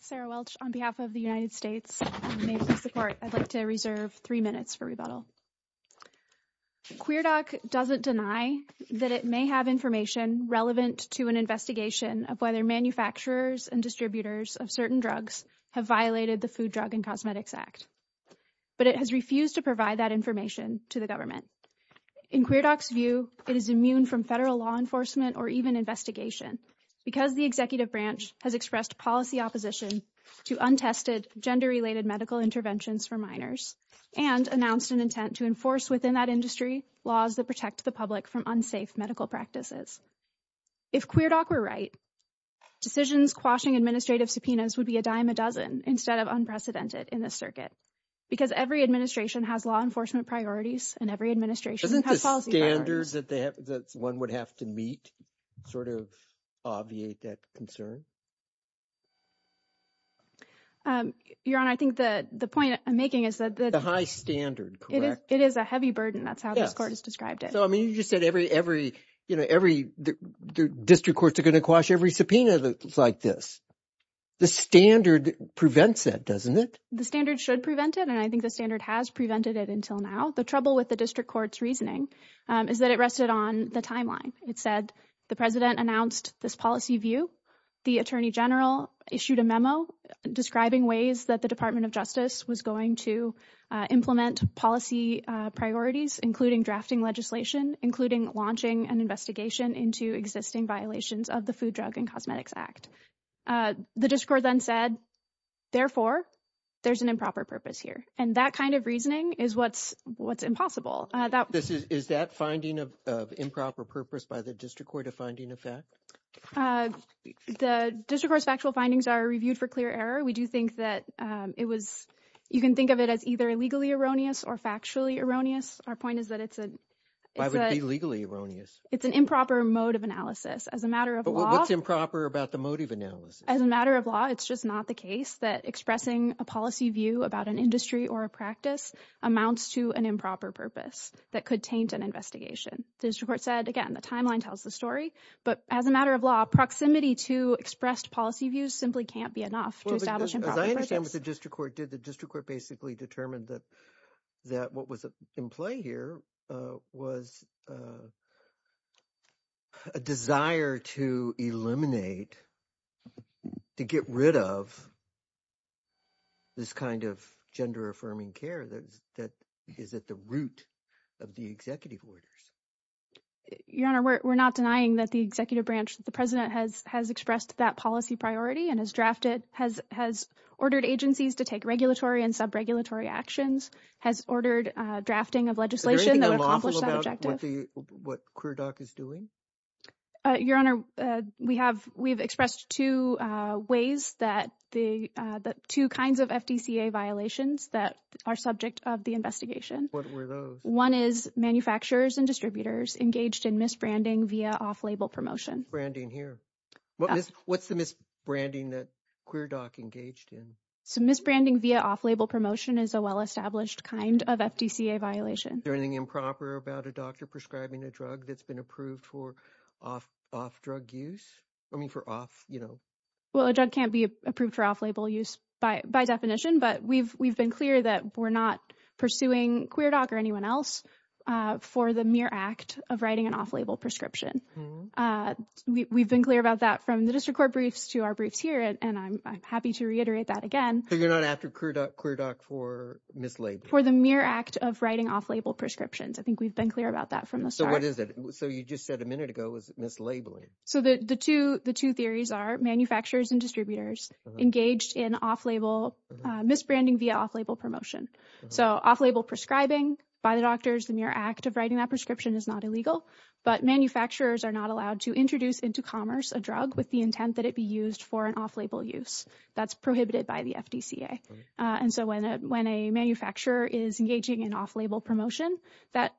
Sarah Welch, United States Department of Justice QueerDoc doesn't deny that it may have information relevant to an investigation of whether manufacturers and distributors of certain drugs have violated the Food, Drug, and Cosmetics Act, but it has refused to provide that information to the government. In QueerDoc's view, it is immune from federal law enforcement or even investigation because the executive branch has expressed policy opposition to untested gender-related medical interventions for minors, and announced an intent to enforce within that industry laws that protect the public from unsafe medical practices. If QueerDoc were right, decisions quashing administrative subpoenas would be a dime a dozen instead of unprecedented in this circuit, because every administration has law enforcement priorities and every administration has policy priorities. Doesn't the standards that one would have to meet sort of obviate that concern? Your Honor, I think the point I'm making is that it is a heavy burden. That's how this Court has described it. So, I mean, you just said every, you know, every district courts are going to quash every subpoena like this. The standard prevents that, doesn't it? The standard should prevent it, and I think the standard has prevented it until now. The trouble with the district court's reasoning is that it rested on the timeline. It said the President announced this policy view, the Attorney General issued a memo describing ways that the Department of Justice was going to implement policy priorities, including drafting legislation, including launching an investigation into existing violations of the Food, Drug, and Cosmetics Act. The district court then said, therefore, there's an improper purpose here. And that kind of reasoning is what's impossible. Is that finding of improper purpose by the district court a finding of fact? The district court's factual findings are reviewed for clear error. We do think that it was, you can think of it as either legally erroneous or factually erroneous. Our point is that it's a... Why would it be legally erroneous? It's an improper mode of analysis. As a matter of law... But what's improper about the mode of analysis? As a matter of law, it's just not the case that expressing a policy view about an industry or a practice amounts to an improper purpose that could taint an investigation. The district court said, again, the timeline tells the story. But as a matter of law, proximity to expressed policy views simply can't be enough to establish improper purposes. As I understand what the district court did, the district court basically determined that that what was in play here was a desire to eliminate, to get rid of this kind of gender-affirming care that is at the root of the executive orders. Your Honor, we're not denying that the executive branch, the president has expressed that policy priority and has drafted, has ordered agencies to take regulatory and sub-regulatory actions, has ordered drafting of legislation that would accomplish that objective. Is there anything unlawful about what QueerDoc is doing? Your Honor, we have expressed two ways that the two kinds of FDCA violations that are subject of the investigation. What were those? One is manufacturers and distributors engaged in misbranding via off-label promotion. Misbranding here. What's the misbranding that QueerDoc engaged in? Misbranding via off-label promotion is a well-established kind of FDCA violation. Is there anything improper about a doctor prescribing a drug that's been approved for off-drug use? I mean, for off, you know. Well, a drug can't be approved for off-label use by definition, but we've been clear that we're not pursuing QueerDoc or anyone else for the mere act of writing an off-label prescription. We've been clear about that from the district court briefs to our briefs here, and I'm happy to reiterate that again. So you're not after QueerDoc for mislabeling? For the mere act of writing off-label prescriptions. I think we've been clear about that from the start. So what is it? So you just said a minute ago it was mislabeling. So the two theories are manufacturers and distributors engaged in off-label, misbranding via off-label promotion. So off-label prescribing by the doctors, the mere act of writing that prescription is not illegal, but manufacturers are not allowed to introduce into commerce a drug with the intent that it be used for an off-label use. That's prohibited by the FDCA. And so when a manufacturer is engaging in off-label promotion, that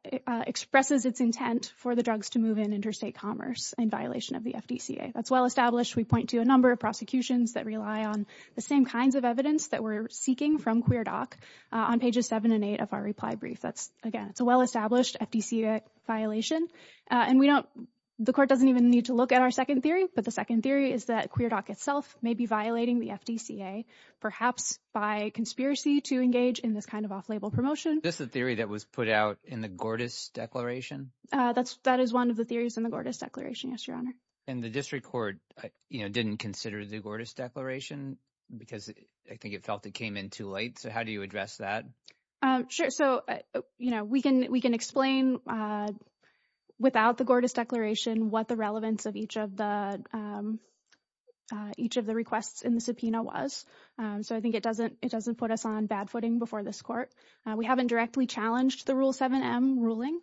expresses its intent for the drugs to move in interstate commerce in violation of the FDCA. That's well established. We point to a number of prosecutions that rely on the same kinds of evidence that we're seeking from QueerDoc on pages seven and eight of our reply brief. That's again, it's a well-established FDCA violation. And we don't, the court doesn't even need to look at our second theory, but the second theory is that QueerDoc itself may be violating the FDCA perhaps by conspiracy to engage in this kind of off-label promotion. Is this the theory that was put out in the Gordas Declaration? That is one of the theories in the Gordas Declaration, yes, your honor. And the district court didn't consider the Gordas Declaration because I think it felt it came in too late. So how do you address that? Sure. So, you know, we can explain without the Gordas Declaration what the relevance of each of the, each of the requests in the subpoena was. So I think it doesn't, it doesn't put us on bad footing before this court. We haven't directly challenged the Rule 7M ruling,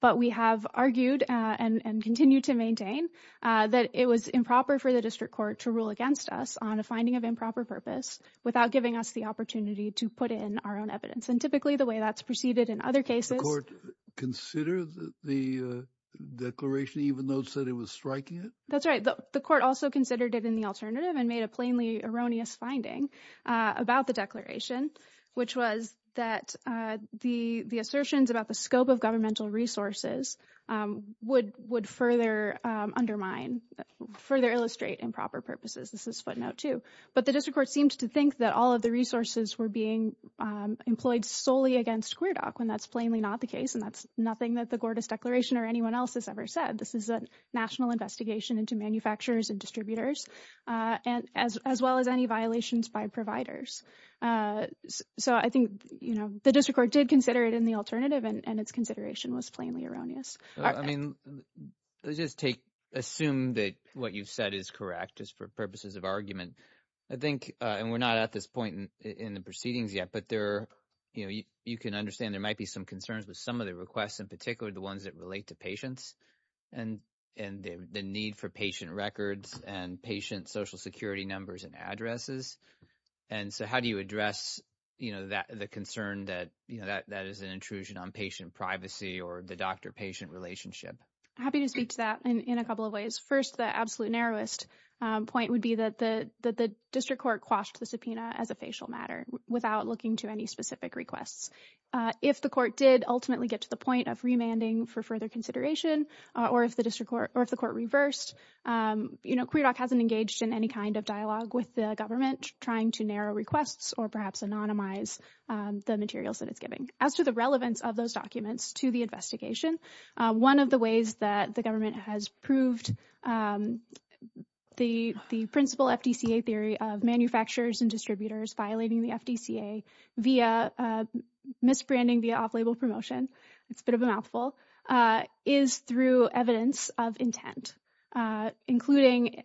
but we have argued and continue to maintain that it was improper for the district court to rule against us on a finding of improper purpose without giving us the opportunity to put in our own evidence. And typically the way that's preceded in other cases. Did the court consider the declaration even though it said it was striking it? That's right. The court also considered it in the alternative and made a plainly erroneous finding about the declaration, which was that the assertions about the scope of governmental resources would further undermine, further illustrate improper purposes. This is footnote two. But the district court seemed to think that all of the resources were being employed solely against SquareDoc when that's plainly not the case. And that's nothing that the Gordas Declaration or anyone else has ever said. This is a national investigation into manufacturers and distributors and as well as any violations by providers. So I think, you know, the district court did consider it in the alternative and its consideration was plainly erroneous. I mean, let's just take, assume that what you've said is correct just for purposes of argument. I think, and we're not at this point in the proceedings yet, but there are, you know, you can understand there might be some concerns with some of the requests in particular, the ones that relate to patients and the need for patient records and patient social security numbers and addresses. And so how do you address, you know, the concern that, you know, that is an intrusion on patient privacy or the doctor patient relationship? I'm happy to speak to that in a couple of ways. First, the absolute narrowest point would be that the district court quashed the subpoena as a facial matter without looking to any specific requests. If the court did ultimately get to the point of remanding for further consideration or if the district court or if the court reversed, you know, QueerDoc hasn't engaged in any kind of dialogue with the government trying to narrow requests or perhaps anonymize the materials that it's giving. As to the relevance of those documents to the investigation, one of the ways that the government has proved the principle FDCA theory of manufacturers and distributors violating the FDCA via misbranding the off-label promotion, it's a bit of a mouthful, is through evidence of intent, including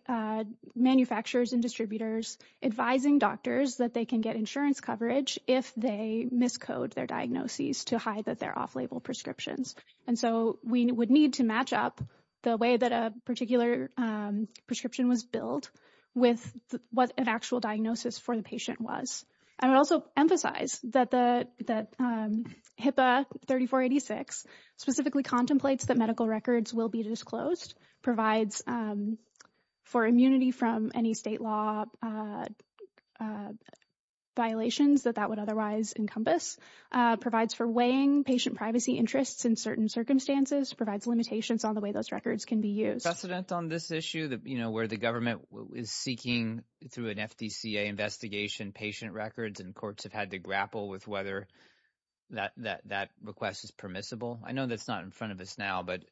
manufacturers and distributors advising doctors that they can get insurance coverage if they miscode their diagnoses to hide that they're off-label prescriptions. And so, we would need to match up the way that a particular prescription was billed with what an actual diagnosis for the patient was. I would also emphasize that the HIPAA 3486 specifically contemplates that medical records will be disclosed, provides for immunity from any state law violations that that would otherwise encompass, provides for weighing patient privacy interests in certain circumstances, provides limitations on the way those records can be used. Precedent on this issue, you know, where the government is seeking through an FDCA investigation patient records and courts have had to grapple with whether that request is permissible? I know that's not in front of us now, but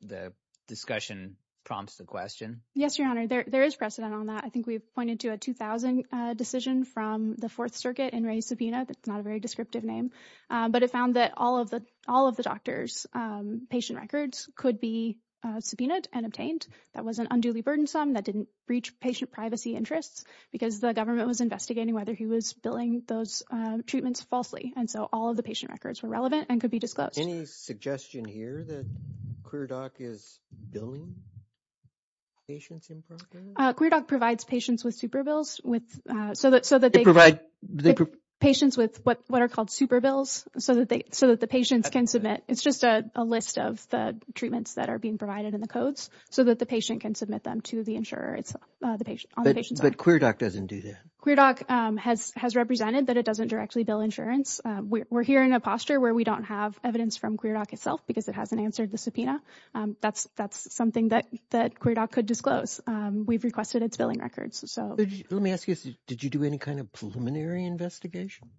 the discussion prompts the question. Yes, Your Honor, there is precedent on that. I think we've pointed to a 2000 decision from the Fourth Circuit in Ray's subpoena. That's not a very descriptive name, but it found that all of the doctors' patient records could be subpoenaed and obtained. That wasn't unduly burdensome. That didn't breach patient privacy interests because the government was investigating whether he was billing those treatments falsely. And so, all of the patient records were relevant and could be disclosed. Any suggestion here that ClearDoc is billing patients improperly? ClearDoc provides patients with super bills, so that they provide patients with what are called super bills, so that the patients can submit. It's just a list of the treatments that are being provided in the codes, so that the patient can submit them to the insurer on the patient's behalf. But ClearDoc doesn't do that? ClearDoc has represented that it doesn't directly bill insurance. We're here in a posture where we don't have evidence from ClearDoc itself because it hasn't answered the subpoena. That's something that ClearDoc could disclose. We've requested its billing records. Let me ask you, did you do any kind of preliminary investigation?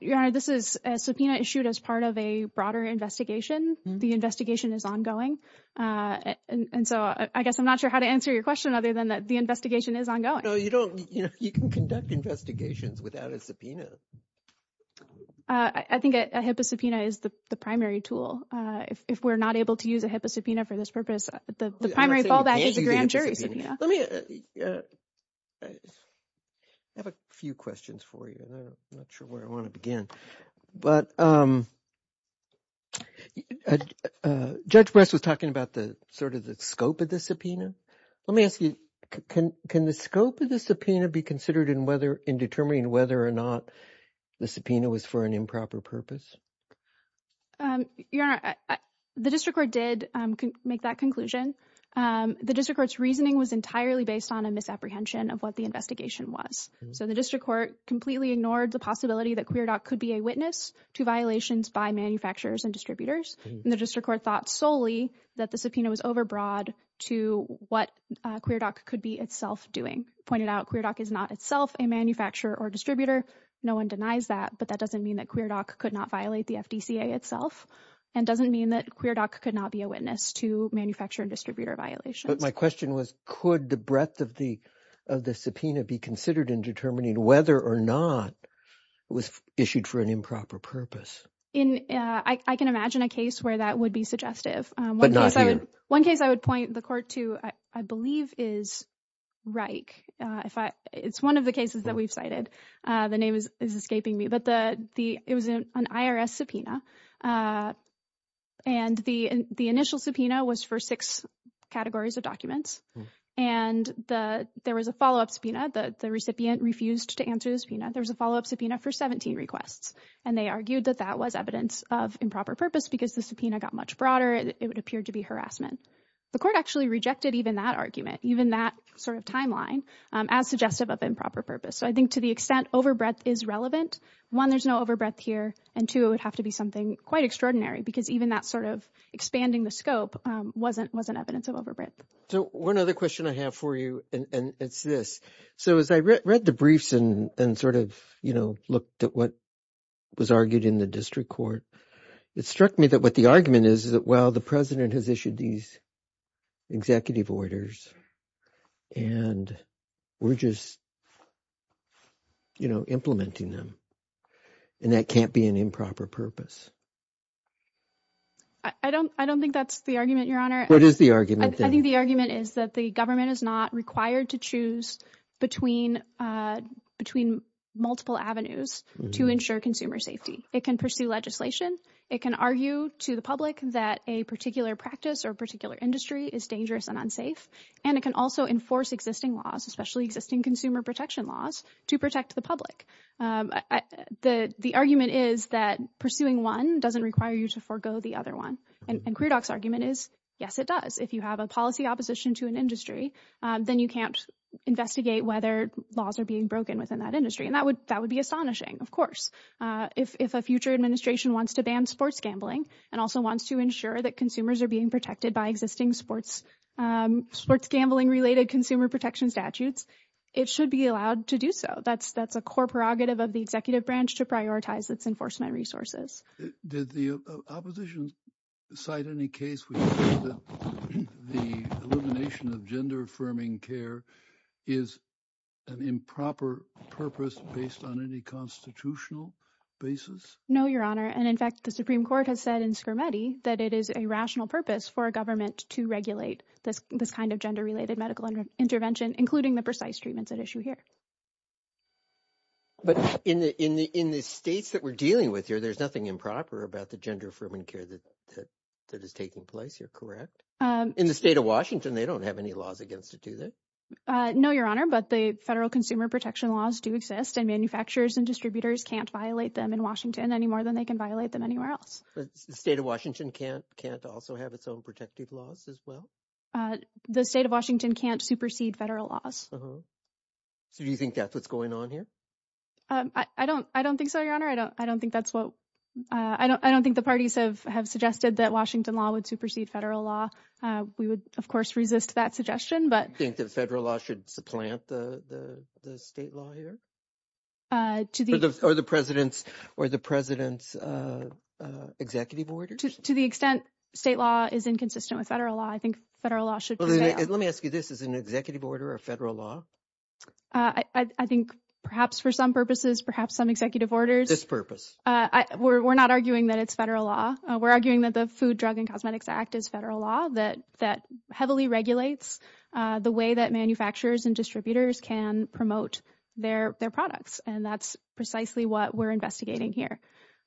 Your Honor, this is a subpoena issued as part of a broader investigation. The investigation is ongoing. And so, I guess I'm not sure how to answer your question other than that the investigation is ongoing. No, you don't. You can conduct investigations without a subpoena. I think a HIPAA subpoena is the primary tool. If we're not able to use a HIPAA subpoena for this purpose, the primary fallback is a grand jury subpoena. Let me... I have a few questions for you, and I'm not sure where I want to begin. But Judge Brest was talking about sort of the scope of the subpoena. Let me ask you, can the scope of the subpoena be considered in determining whether or not the subpoena was for an improper purpose? Your Honor, the district court did make that conclusion. The district court's reasoning was entirely based on a misapprehension of what the investigation was. So, the district court completely ignored the possibility that QueerDoc could be a witness to violations by manufacturers and distributors, and the district court thought solely that the subpoena was overbroad to what QueerDoc could be itself doing. It pointed out QueerDoc is not itself a manufacturer or distributor. No one denies that, but that doesn't mean that QueerDoc could not violate the FDCA itself, and doesn't mean that QueerDoc could not be a witness to manufacturer and distributor violations. But my question was, could the breadth of the subpoena be considered in determining whether or not it was issued for an improper purpose? I can imagine a case where that would be suggestive. One case I would point the court to, I believe, is Reich. It's one of the cases that we've cited. The name is escaping me, but it was an IRS subpoena, and the initial subpoena was for six categories of documents, and there was a follow-up subpoena, the recipient refused to answer the subpoena. There was a follow-up subpoena for 17 requests, and they argued that that was evidence of improper purpose because the subpoena got much broader, it would appear to be harassment. The court actually rejected even that argument, even that sort of timeline, as suggestive of improper purpose. So I think to the extent overbreadth is relevant, one, there's no overbreadth here, and two, it would have to be something quite extraordinary, because even that sort of expanding the scope wasn't evidence of overbreadth. So one other question I have for you, and it's this. So as I read the briefs and sort of looked at what was argued in the district court, it struck me that what the argument is, is that, well, the President has issued these executive orders, and we're just, you know, implementing them, and that can't be an improper purpose. I don't, I don't think that's the argument, Your Honor. What is the argument, then? I think the argument is that the government is not required to choose between, between multiple avenues to ensure consumer safety. It can pursue legislation. It can argue to the public that a particular practice or a particular industry is dangerous and unsafe, and it can also enforce existing laws, especially existing consumer protection laws, to protect the public. The argument is that pursuing one doesn't require you to forego the other one, and Queerdoc's argument is, yes, it does. If you have a policy opposition to an industry, then you can't investigate whether laws are being broken within that industry, and that would, that would be astonishing, of course. If a future administration wants to ban sports gambling and also wants to ensure that consumers are being protected by existing sports, sports gambling-related consumer protection statutes, it should be allowed to do so. That's, that's a core prerogative of the executive branch to prioritize its enforcement resources. Did the opposition cite any case where you think that the elimination of gender-affirming care is an improper purpose based on any constitutional basis? No, Your Honor, and in fact, the Supreme Court has said in Scarametti that it is a rational purpose for a government to regulate this, this kind of gender-related medical intervention, including the precise treatments at issue here. But in the, in the, in the states that we're dealing with here, there's nothing improper about the gender-affirming care that, that is taking place here, correct? In the state of Washington, they don't have any laws against it, do they? No, Your Honor, but the federal consumer protection laws do exist, and manufacturers and distributors can't violate them in Washington any more than they can violate them anywhere else. But the state of Washington can't, can't also have its own protective laws as well? The state of Washington can't supersede federal laws. So do you think that's what's going on here? I don't, I don't think so, Your Honor. I don't, I don't think that's what, I don't, I don't think the parties have, have suggested that Washington law would supersede federal law. We would, of course, resist that suggestion, but... Do you think that federal law should supplant the, the, the state law here? To the... Or the, or the President's, or the President's executive orders? To the extent state law is inconsistent with federal law, I think federal law should prevail. Let me ask you, this is an executive order or a federal law? I, I think perhaps for some purposes, perhaps some executive orders. This purpose? I, we're, we're not arguing that it's federal law. We're arguing that the Food, Drug, and Cosmetics Act is federal law that, that heavily regulates the way that manufacturers and distributors can promote their, their products. And that's precisely what we're investigating here.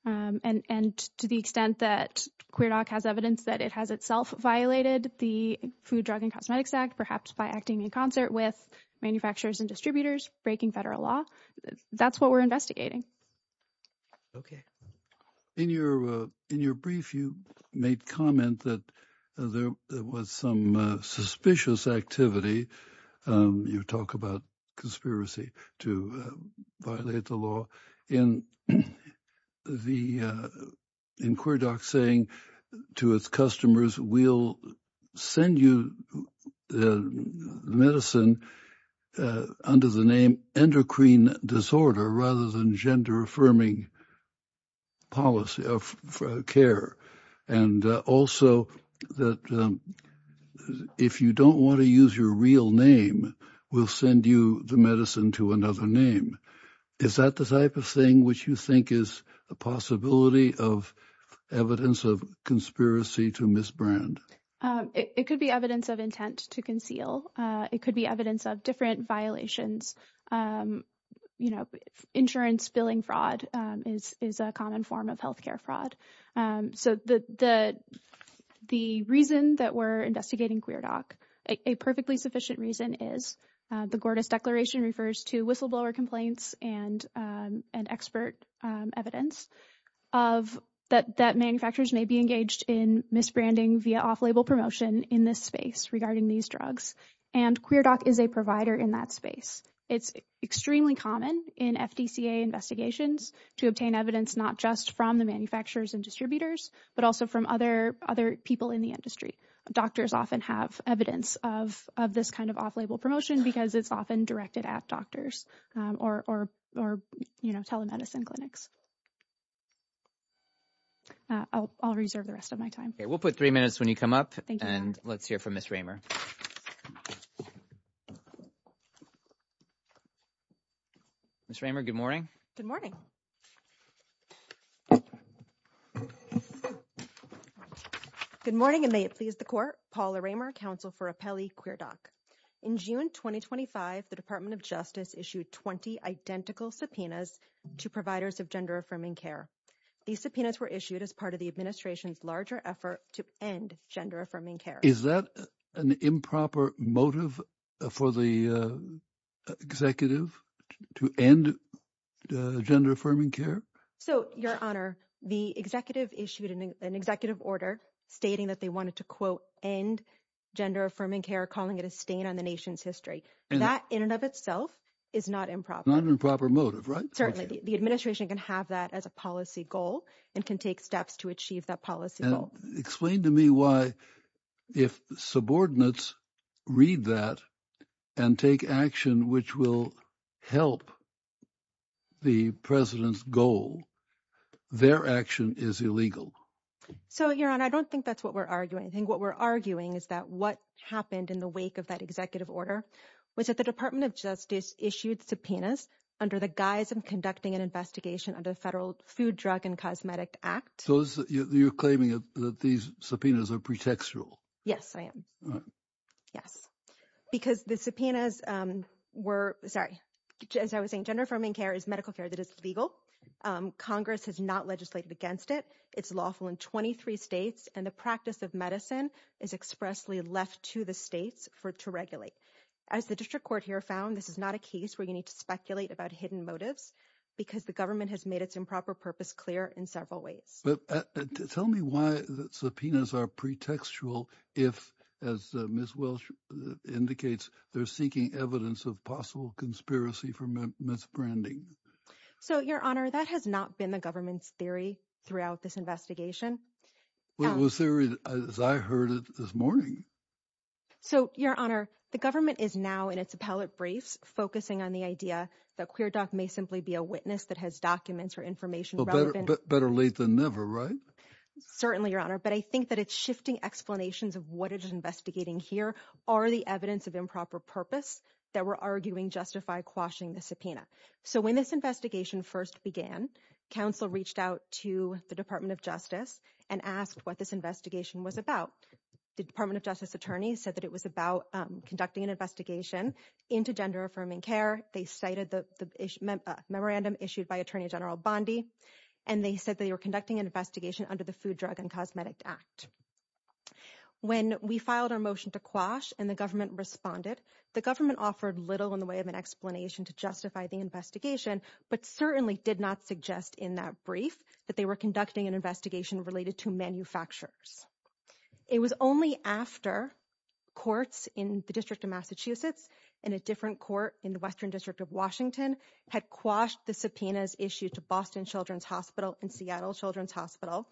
And to the extent that QueerDoc has evidence that it has itself violated the Food, Drug, and Cosmetics Act, perhaps by acting in concert with manufacturers and distributors, breaking federal law, that's what we're investigating. Okay. In your, in your brief, you made comment that there was some suspicious activity, you talk about conspiracy to violate the law, in the, in QueerDoc saying to its customers, we'll send you the medicine under the name endocrine disorder rather than gender affirming policy of care. And also that if you don't want to use your real name, we'll send you the medicine to another name. Is that the type of thing which you think is a possibility of evidence of conspiracy to misbrand? It could be evidence of intent to conceal. It could be evidence of different violations. You know, insurance billing fraud is, is a common form of healthcare fraud. So the, the, the reason that we're investigating QueerDoc, a perfectly sufficient reason is the Gordas Declaration refers to whistleblower complaints and, and expert evidence of that, that manufacturers may be engaged in misbranding via off-label promotion in this space regarding these drugs. And QueerDoc is a provider in that space. It's extremely common in FDCA investigations to obtain evidence, not just from the manufacturers and distributors, but also from other, other people in the industry. Doctors often have evidence of, of this kind of off-label promotion because it's often directed at doctors or, or, or, you know, telemedicine clinics. I'll, I'll reserve the rest of my time. We'll put three minutes when you come up and let's hear from Ms. Raymer. Ms. Raymer, good morning. Good morning. Good morning, and may it please the court, Paula Raymer, counsel for Apelli QueerDoc. In June 2025, the Department of Justice issued 20 identical subpoenas to providers of gender affirming care. These subpoenas were issued as part of the administration's larger effort to end gender affirming care. Is that an improper motive for the executive to end gender affirming care? So your honor, the executive issued an executive order stating that they wanted to quote, end gender affirming care, calling it a stain on the nation's history. That in and of itself is not improper. Not an improper motive, right? Certainly. The administration can have that as a policy goal and can take steps to achieve that policy goal. Explain to me why if subordinates read that and take action, which will help the president's goal, their action is illegal. So your honor, I don't think that's what we're arguing. I think what we're arguing is that what happened in the wake of that executive order was that the Department of Justice issued subpoenas under the guise of conducting an investigation under the Federal Food, Drug, and Cosmetic Act. So you're claiming that these subpoenas are pretextual? Yes, I am. Yes. Because the subpoenas were, sorry, as I was saying, gender affirming care is medical care that is legal. Congress has not legislated against it. It's lawful in 23 states and the practice of medicine is expressly left to the states for it to regulate. As the district court here found, this is not a case where you need to speculate about hidden motives because the government has made its improper purpose clear in several ways. But tell me why the subpoenas are pretextual if, as Ms. Welsh indicates, they're seeking evidence of possible conspiracy for misbranding. So Your Honor, that has not been the government's theory throughout this investigation. Well, it was the theory as I heard it this morning. So Your Honor, the government is now in its appellate briefs focusing on the idea that QueerDoc may simply be a witness that has documents or information relevant. Better late than never, right? Certainly Your Honor. But I think that it's shifting explanations of what it is investigating here are the evidence of improper purpose that we're arguing justify quashing the subpoena. So when this investigation first began, counsel reached out to the Department of Justice and asked what this investigation was about. The Department of Justice attorney said that it was about conducting an investigation into gender affirming care. They cited the memorandum issued by Attorney General Bondi and they said they were conducting an investigation under the Food, Drug, and Cosmetic Act. When we filed our motion to quash and the government responded, the government offered little in the way of an explanation to justify the investigation, but certainly did not suggest in that brief that they were conducting an investigation related to manufacturers. It was only after courts in the District of Massachusetts and a different court in the Western District of Washington had quashed the subpoenas issued to Boston Children's Hospital and Seattle Children's Hospital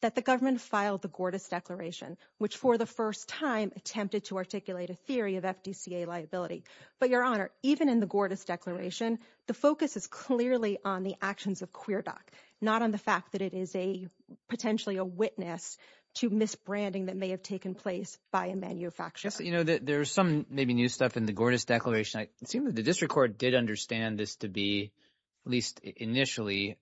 that the government filed the Gordist Declaration, which for the first time attempted to articulate a theory of FDCA liability. But Your Honor, even in the Gordist Declaration, the focus is clearly on the actions of QueerDoc, not on the fact that it is a potentially a witness to misbranding that may have taken place by a manufacturer. You know, there's some maybe new stuff in the Gordist Declaration. It seemed that the district court did understand this to be, at least initially,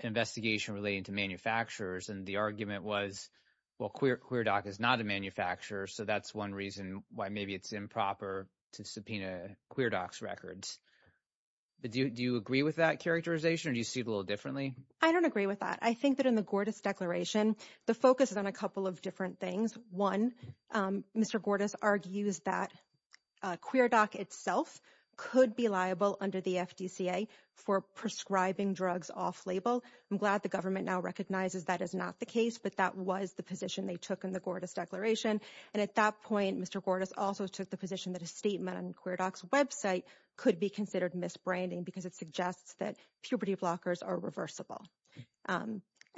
an investigation relating to manufacturers and the argument was, well, QueerDoc is not a manufacturer, so that's one reason why maybe it's improper to subpoena QueerDoc's records. Do you agree with that characterization or do you see it a little differently? I don't agree with that. I think that in the Gordist Declaration, the focus is on a couple of different things. One, Mr. Gordist argues that QueerDoc itself could be liable under the FDCA for prescribing drugs off-label. I'm glad the government now recognizes that is not the case, but that was the position they took in the Gordist Declaration. And at that point, Mr. Gordist also took the position that a statement on QueerDoc's website could be considered misbranding because it suggests that puberty blockers are reversible.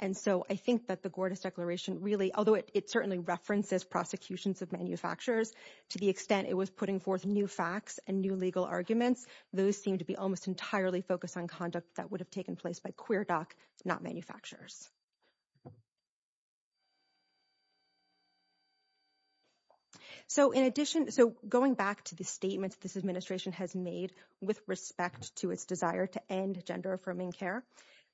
And so I think that the Gordist Declaration really, although it certainly references prosecutions of manufacturers, to the extent it was putting forth new facts and new legal arguments, those seem to be almost entirely focused on conduct that would have taken place by QueerDoc, not manufacturers. So in addition, so going back to the statements this administration has made with respect to its desire to end gender-affirming care.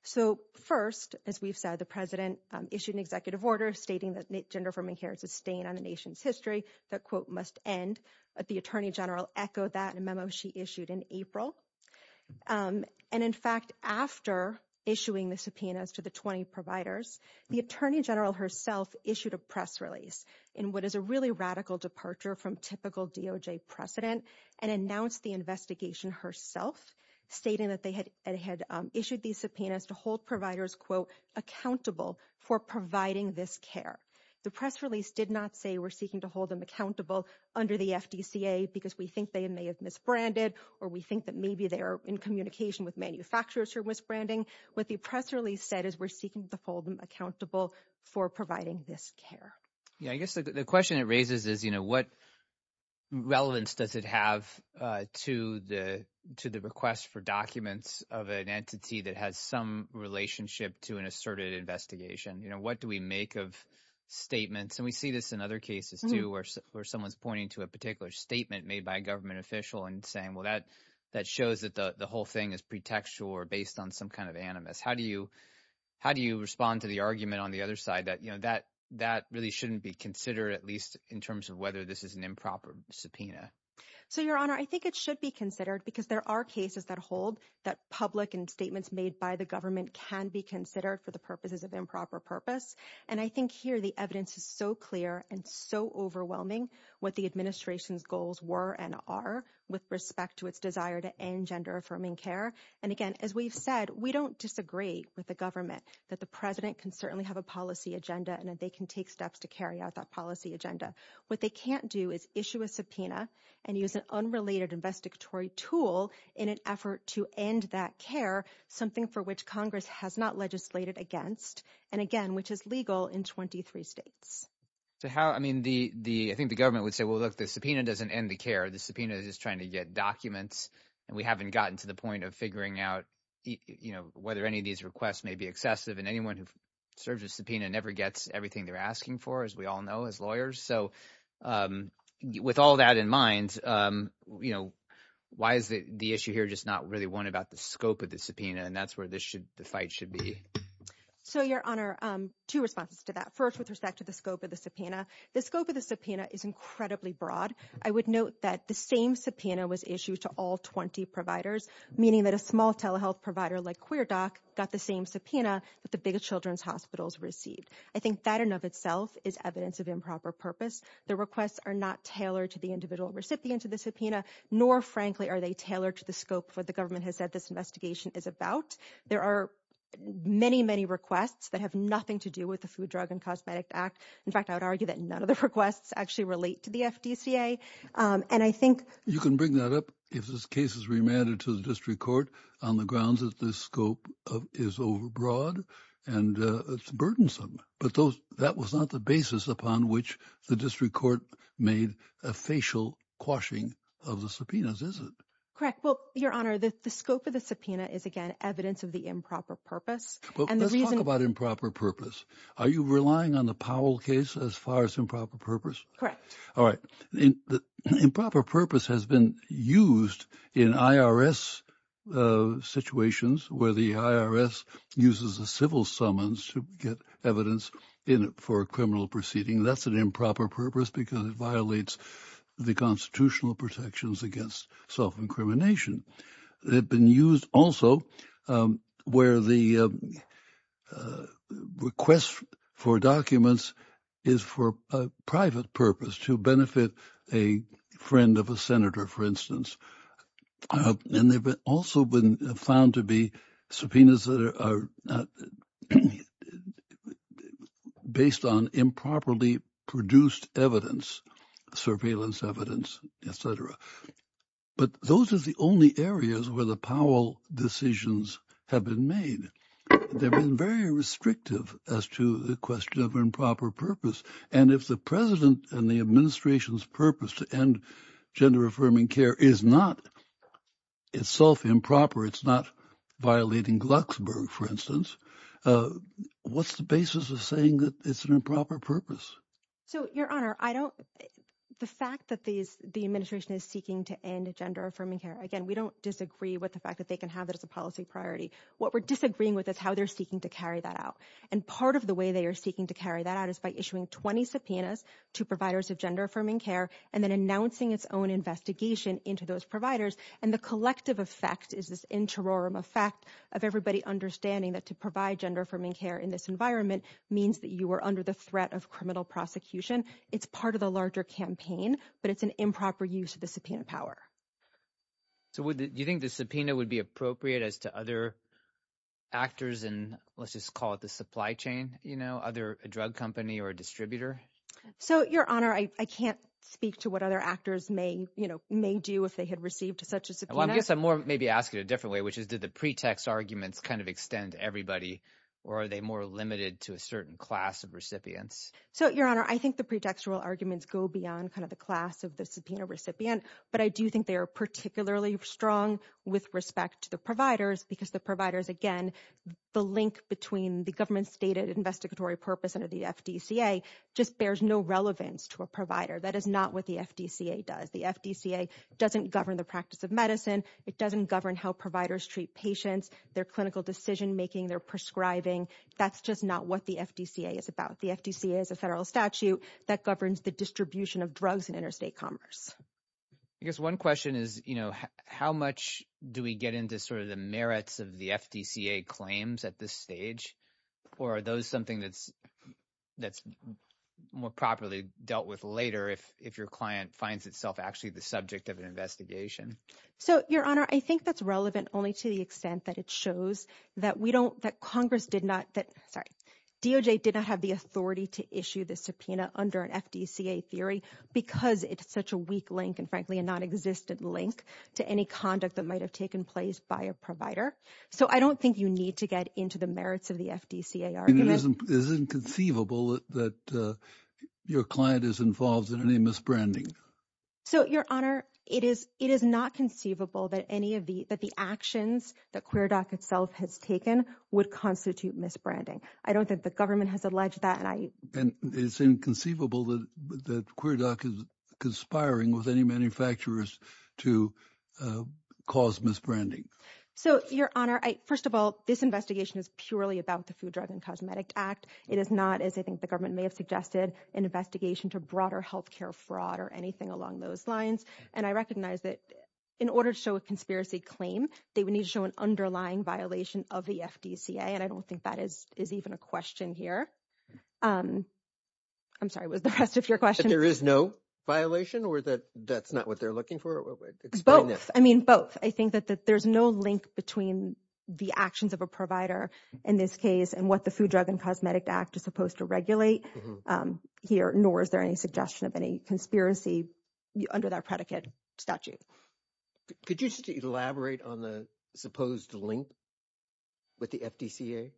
So first, as we've said, the president issued an executive order stating that gender-affirming care is a stain on the nation's history that, quote, must end. The attorney general echoed that in a memo she issued in April. And in fact, after issuing the subpoenas to the 20 providers, the attorney general herself issued a press release in what is a really radical departure from typical DOJ precedent and announced the investigation herself, stating that they had issued these subpoenas to hold providers, quote, accountable for providing this care. The press release did not say we're seeking to hold them accountable under the FDCA because we think they may have misbranded or we think that maybe they're in communication with manufacturers who are misbranding. What the press release said is we're seeking to hold them accountable for providing this care. Yeah, I guess the question it raises is, you know, what relevance does it have to the to the request for documents of an entity that has some relationship to an asserted investigation? You know, what do we make of statements? And we see this in other cases, too, where someone's pointing to a particular statement made by a government official and saying, well, that that shows that the whole thing is pretextual or based on some kind of animus. How do you how do you respond to the argument on the other side that, you know, that that really shouldn't be considered, at least in terms of whether this is an improper subpoena? So Your Honor, I think it should be considered because there are cases that hold that public statements made by the government can be considered for the purposes of improper purpose. And I think here the evidence is so clear and so overwhelming what the administration's goals were and are with respect to its desire to end gender affirming care. And again, as we've said, we don't disagree with the government that the president can certainly have a policy agenda and that they can take steps to carry out that policy agenda. What they can't do is issue a subpoena and use an unrelated investigatory tool in an effort to end that care, something for which Congress has not legislated against. And again, which is legal in twenty three states. So how I mean, the the I think the government would say, well, look, the subpoena doesn't end the care. The subpoena is trying to get documents and we haven't gotten to the point of figuring out, you know, whether any of these requests may be excessive and anyone who serves a subpoena never gets everything they're asking for, as we all know, as lawyers. So with all that in mind, you know, why is the issue here just not really one about the scope of the subpoena? And that's where this should the fight should be. So your honor, two responses to that, first, with respect to the scope of the subpoena, the scope of the subpoena is incredibly broad. I would note that the same subpoena was issued to all 20 providers, meaning that a small telehealth provider like Queer Doc got the same subpoena that the biggest children's hospitals received. I think that in of itself is evidence of improper purpose. The requests are not tailored to the individual recipient of the subpoena, nor frankly, are they tailored to the scope for the government has said this investigation is about. There are many, many requests that have nothing to do with the Food, Drug and Cosmetic Act. In fact, I would argue that none of the requests actually relate to the FDCA. And I think you can bring that up if this case is remanded to the district court on the grounds that the scope is overbroad and it's burdensome. But those that was not the basis upon which the district court made a facial quashing of the subpoenas. Is it correct? Well, your honor, the scope of the subpoena is, again, evidence of the improper purpose and the reason about improper purpose. Are you relying on the Powell case as far as improper purpose? Correct. All right. The improper purpose has been used in IRS situations where the IRS uses a civil summons to get evidence in it for a criminal proceeding. That's an improper purpose because it violates the constitutional protections against self-incrimination. They've been used also where the request for documents is for a private purpose to benefit a friend of a senator, for instance. And they've also been found to be subpoenas that are based on improperly produced evidence, surveillance evidence, et cetera. But those are the only areas where the Powell decisions have been made. They've been very restrictive as to the question of improper purpose. And if the president and the administration's purpose to end gender-affirming care is not itself improper, it's not violating Glucksberg, for instance, what's the basis of saying that it's an improper purpose? So, Your Honor, the fact that the administration is seeking to end gender-affirming care, again, we don't disagree with the fact that they can have it as a policy priority. What we're disagreeing with is how they're seeking to carry that out. And part of the way they are seeking to carry that out is by issuing 20 subpoenas to providers of gender-affirming care and then announcing its own investigation into those providers. And the collective effect is this interim effect of everybody understanding that to provide gender-affirming care in this environment means that you are under the threat of criminal prosecution. It's part of the larger campaign, but it's an improper use of the subpoena power. So do you think the subpoena would be appropriate as to other actors in, let's just call it the supply chain, you know, other drug company or distributor? So Your Honor, I can't speak to what other actors may, you know, may do if they had received such a subpoena. Well, I guess I'm more maybe asking it a different way, which is did the pretext arguments kind of extend to everybody or are they more limited to a certain class of recipients? So, Your Honor, I think the pretextual arguments go beyond kind of the class of the subpoena recipient, but I do think they are particularly strong with respect to the providers because the providers, again, the link between the government stated investigatory purpose under the FDCA just bears no relevance to a provider. That is not what the FDCA does. The FDCA doesn't govern the practice of medicine. It doesn't govern how providers treat patients, their clinical decision-making, their prescribing. That's just not what the FDCA is about. The FDCA is a federal statute that governs the distribution of drugs in interstate commerce. I guess one question is, you know, how much do we get into sort of the merits of the FDCA claims at this stage or are those something that's more properly dealt with later if your client finds itself actually the subject of an investigation? So Your Honor, I think that's relevant only to the extent that it shows that we don't, that Congress did not, that, sorry, DOJ did not have the authority to issue the subpoena under an FDCA theory because it's such a weak link and frankly a nonexistent link to any conduct that might have taken place by a provider. So I don't think you need to get into the merits of the FDCA argument. And it isn't conceivable that your client is involved in any misbranding? So Your Honor, it is not conceivable that any of the, that the actions that QueerDoc itself has taken would constitute misbranding. I don't think the government has alleged that and I... And it's inconceivable that QueerDoc is conspiring with any manufacturers to cause misbranding? So Your Honor, first of all, this investigation is purely about the Food, Drug, and Cosmetic Act. It is not, as I think the government may have suggested, an investigation to broader health care fraud or anything along those lines. And I recognize that in order to show a conspiracy claim, they would need to show an underlying violation of the FDCA and I don't think that is even a question here. I'm sorry, was the rest of your question? That there is no violation or that that's not what they're looking for? Explain that. I mean, both. I think that there's no link between the actions of a provider in this case and what the Food, Drug, and Cosmetic Act is supposed to regulate here, nor is there any suggestion of any conspiracy under that predicate statute. Could you just elaborate on the supposed link with the FDCA?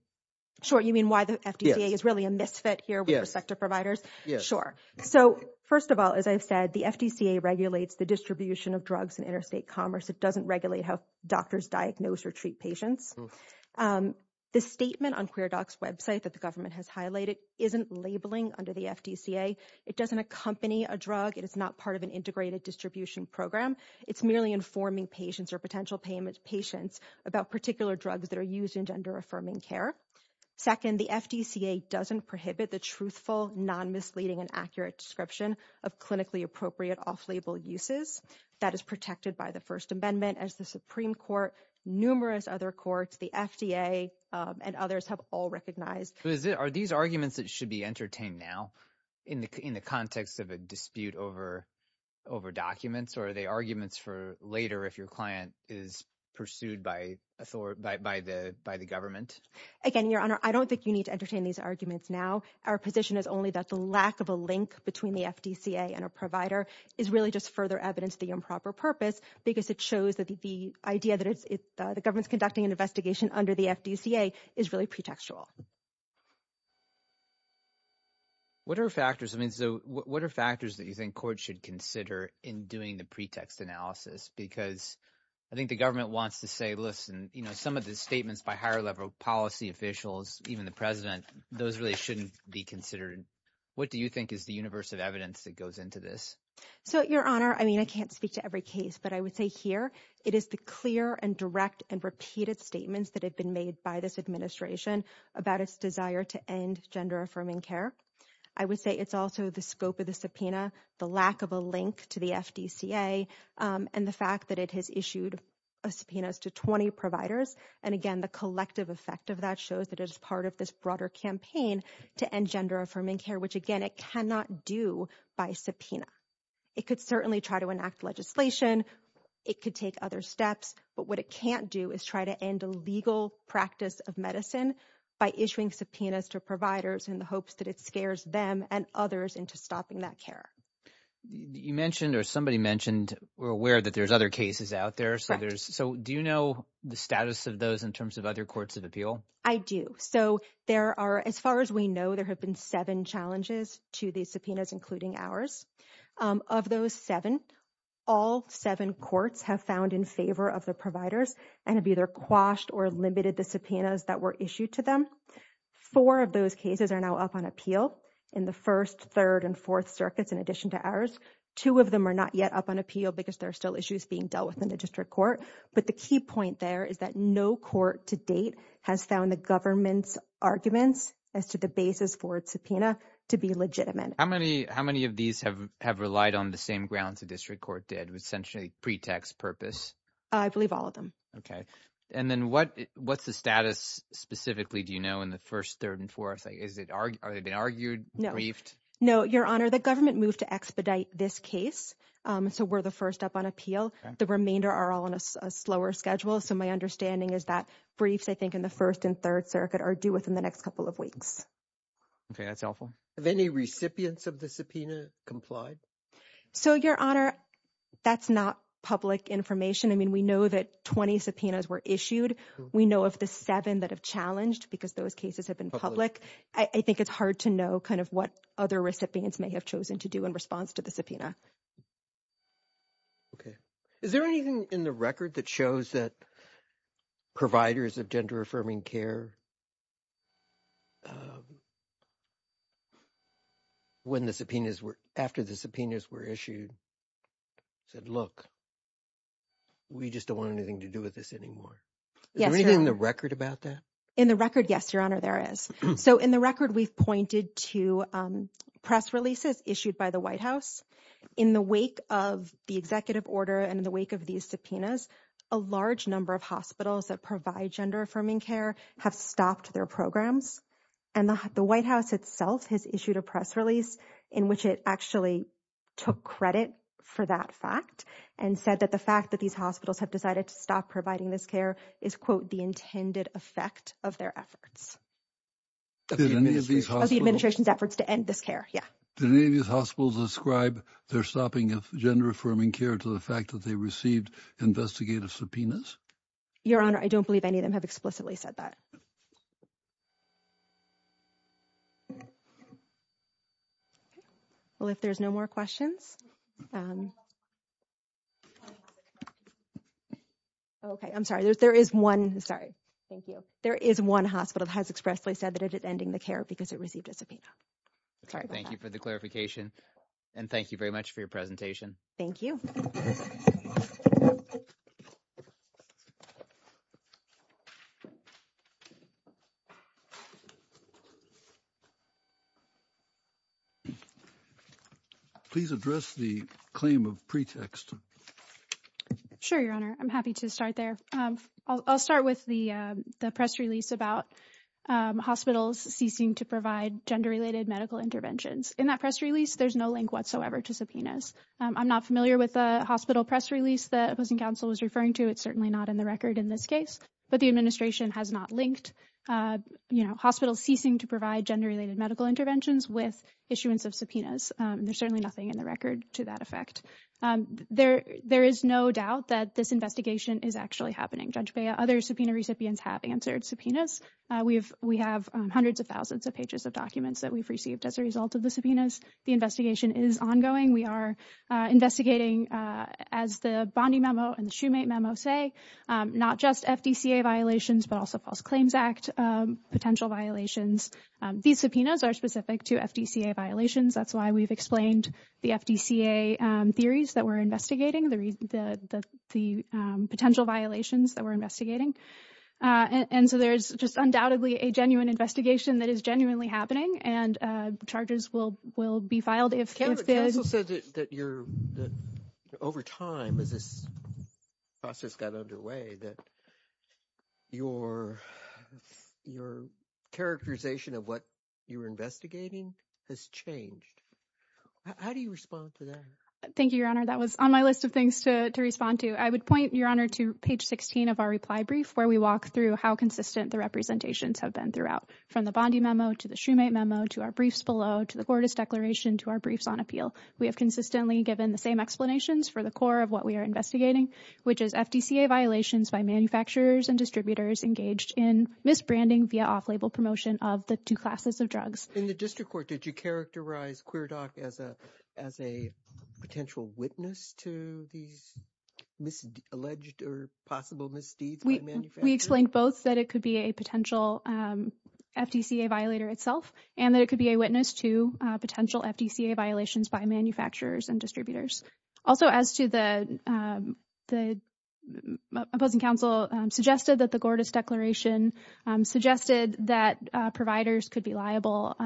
Sure. You mean why the FDCA is really a misfit here with the sector providers? Yes. Sure. So, first of all, as I've said, the FDCA regulates the distribution of drugs in interstate commerce. It doesn't regulate how doctors diagnose or treat patients. The statement on QueerDoc's website that the government has highlighted isn't labeling under the FDCA. It doesn't accompany a drug. It is not part of an integrated distribution program. It's merely informing patients or potential patients about particular drugs that are used in gender-affirming care. Second, the FDCA doesn't prohibit the truthful, non-misleading, and accurate description of clinically appropriate off-label uses. That is protected by the First Amendment, as the Supreme Court, numerous other courts, the FDA, and others have all recognized. Are these arguments that should be entertained now in the context of a dispute over documents, or are they arguments for later if your client is pursued by the government? Again, Your Honor, I don't think you need to entertain these arguments now. Our position is only that the lack of a link between the FDCA and a provider is really just further evidence of the improper purpose because it shows that the idea that the government is conducting an investigation under the FDCA is really pretextual. What are factors that you think courts should consider in doing the pretext analysis? Because I think the government wants to say, listen, some of the statements by higher-level policy officials, even the President, those really shouldn't be considered. What do you think is the universe of evidence that goes into this? So Your Honor, I mean, I can't speak to every case, but I would say here it is the clear and direct and repeated statements that have been made by this administration about its desire to end gender-affirming care. I would say it's also the scope of the subpoena, the lack of a link to the FDCA, and the fact that it has issued subpoenas to 20 providers. And again, the collective effect of that shows that it is part of this broader campaign to end gender-affirming care, which again, it cannot do by subpoena. It could certainly try to enact legislation. It could take other steps. But what it can't do is try to end a legal practice of medicine by issuing subpoenas to providers in the hopes that it scares them and others into stopping that care. You mentioned, or somebody mentioned, we're aware that there's other cases out there. So do you know the status of those in terms of other courts of appeal? I do. So there are, as far as we know, there have been seven challenges to these subpoenas, including ours. Of those seven, all seven courts have found in favor of the providers and have either quashed or limited the subpoenas that were issued to them. Four of those cases are now up on appeal in the first, third, and fourth circuits in addition to ours. Two of them are not yet up on appeal because there are still issues being dealt with in the district court. But the key point there is that no court to date has found the government's arguments as to the basis for its subpoena to be legitimate. How many of these have relied on the same grounds the district court did, with essentially pretext purpose? I believe all of them. And then what's the status specifically, do you know, in the first, third, and fourth? Are they being argued, briefed? No, Your Honor, the government moved to expedite this case. So we're the first up on appeal. The remainder are all on a slower schedule. So my understanding is that briefs, I think, in the first and third circuit are due within the next couple of weeks. Okay, that's helpful. Have any recipients of the subpoena complied? So Your Honor, that's not public information. I mean, we know that 20 subpoenas were issued. We know of the seven that have challenged because those cases have been public. I think it's hard to know kind of what other recipients may have chosen to do in response to the subpoena. Okay. Is there anything in the record that shows that providers of gender affirming care, when the subpoenas were, after the subpoenas were issued, said, look, we just don't want anything to do with this anymore? Yes, Your Honor. Is there anything in the record about that? In the record, yes, Your Honor, there is. So in the record, we've pointed to press releases issued by the White House in the wake of the executive order and in the wake of these subpoenas, a large number of hospitals that provide gender affirming care have stopped their programs. And the White House itself has issued a press release in which it actually took credit for that fact and said that the fact that these hospitals have decided to stop providing this care is, quote, the intended effect of their efforts of the administration's efforts to end this care. Yeah. Did any of these hospitals ascribe their stopping of gender affirming care to the fact that they received investigative subpoenas? Your Honor, I don't believe any of them have explicitly said that. Well, if there's no more questions. Okay. I'm sorry. There is one. Sorry. Thank you. There is one hospital that has expressly said that it is ending the care because it received a subpoena. Sorry about that. Okay. Thank you for the clarification. And thank you very much for your presentation. Thank you. Please address the claim of pretext. Sure, Your Honor. I'm happy to start there. I'll start with the press release about hospitals ceasing to provide gender-related medical interventions. In that press release, there's no link whatsoever to subpoenas. I'm not familiar with the hospital press release the opposing counsel was referring to. It's certainly not in the record in this case. But the administration has not linked, you know, hospitals ceasing to provide gender-related medical interventions with issuance of subpoenas. There's certainly nothing in the record to that effect. There is no doubt that this investigation is actually happening. Judge Bea, other subpoena recipients have answered subpoenas. We have hundreds of thousands of pages of documents that we've received as a result of the subpoenas. The investigation is ongoing. We are investigating, as the Bondi memo and the Shoemate memo say, not just FDCA violations but also False Claims Act potential violations. These subpoenas are specific to FDCA violations. That's why we've explained the FDCA theories that we're investigating, the potential violations that we're investigating. And so there's just undoubtedly a genuine investigation that is genuinely happening. And charges will be filed if there's... Cameron, counsel said that over time, as this process got underway, that your characterization of what you were investigating has changed. How do you respond to that? Thank you, Your Honor. That was on my list of things to respond to. I would point, Your Honor, to page 16 of our reply brief, where we walk through how consistent the representations have been throughout, from the Bondi memo, to the Shoemate memo, to our briefs below, to the court's declaration, to our briefs on appeal. We have consistently given the same explanations for the core of what we are investigating, which is FDCA violations by manufacturers and distributors engaged in misbranding via off-label promotion of the two classes of drugs. In the district court, did you characterize Queerdoc as a potential witness to these alleged or possible misdeeds by manufacturers? We explained both that it could be a potential FDCA violator itself, and that it could be a witness to potential FDCA violations by manufacturers and distributors. Also as to the opposing counsel suggested that the Gordas Declaration suggested that providers could be liable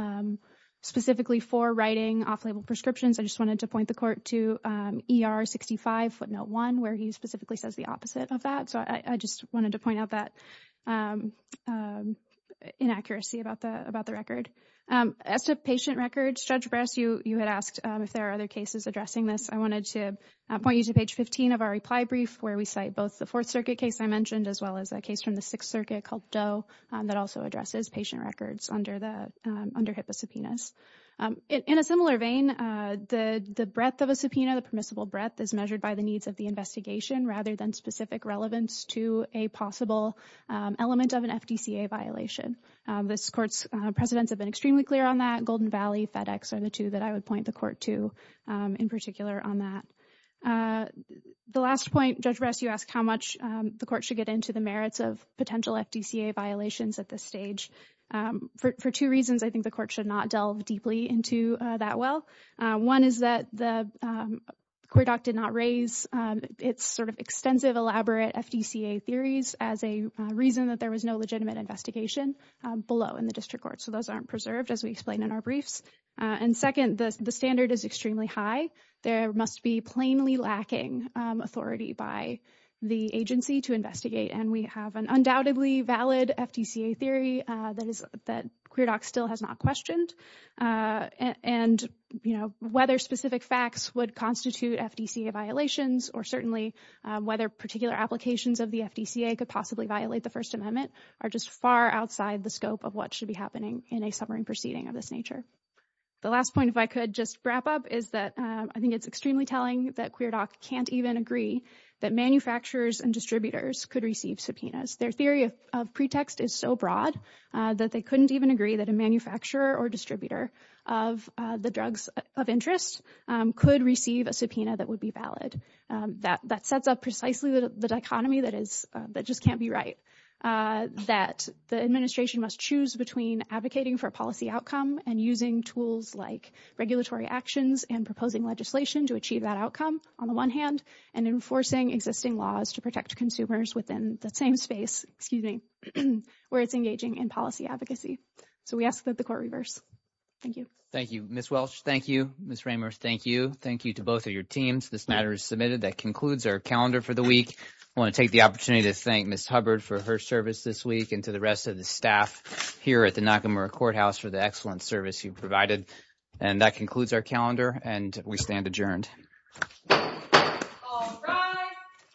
specifically for writing off-label prescriptions, I just wanted to point the court to ER 65 footnote 1, where he specifically says the opposite of that. So I just wanted to point out that inaccuracy about the record. As to patient records, Judge Brass, you had asked if there are other cases addressing this. I wanted to point you to page 15 of our reply brief, where we cite both the Fourth Circuit case I mentioned, as well as a case from the Sixth Circuit called Doe that also addresses patient records under HIPAA subpoenas. In a similar vein, the breadth of a subpoena, the permissible breadth, is measured by the needs of the investigation rather than specific relevance to a possible element of an FDCA violation. This court's precedents have been extremely clear on that. Golden Valley, FedEx are the two that I would point the court to in particular on that. The last point, Judge Brass, you asked how much the court should get into the merits of potential FDCA violations at this stage. For two reasons, I think the court should not delve deeply into that well. One is that the court did not raise its sort of extensive, elaborate FDCA theories as a reason that there was no legitimate investigation below in the district court. So those aren't preserved, as we explain in our briefs. And second, the standard is extremely high. There must be plainly lacking authority by the agency to investigate. And we have an undoubtedly valid FDCA theory that Queerdoc still has not questioned. And whether specific facts would constitute FDCA violations or certainly whether particular applications of the FDCA could possibly violate the First Amendment are just far outside the scope of what should be happening in a summary proceeding of this nature. The last point, if I could just wrap up, is that I think it's extremely telling that Queerdoc can't even agree that manufacturers and distributors could receive subpoenas. Their theory of pretext is so broad that they couldn't even agree that a manufacturer or distributor of the drugs of interest could receive a subpoena that would be valid. That sets up precisely the dichotomy that just can't be right, that the administration must choose between advocating for a policy outcome and using tools like regulatory actions and proposing legislation to achieve that outcome, on the one hand, and enforcing existing laws to protect consumers within the same space, excuse me, where it's engaging in policy advocacy. So we ask that the Court reverse. Thank you. Thank you, Ms. Welch. Thank you, Ms. Ramers. Thank you. Thank you to both of your teams. This matter is submitted. That concludes our calendar for the week. I want to take the opportunity to thank Ms. Hubbard for her service this week and to the rest of the staff here at the Nakamura Courthouse for the excellent service you've provided. And that concludes our calendar, and we stand adjourned. All rise.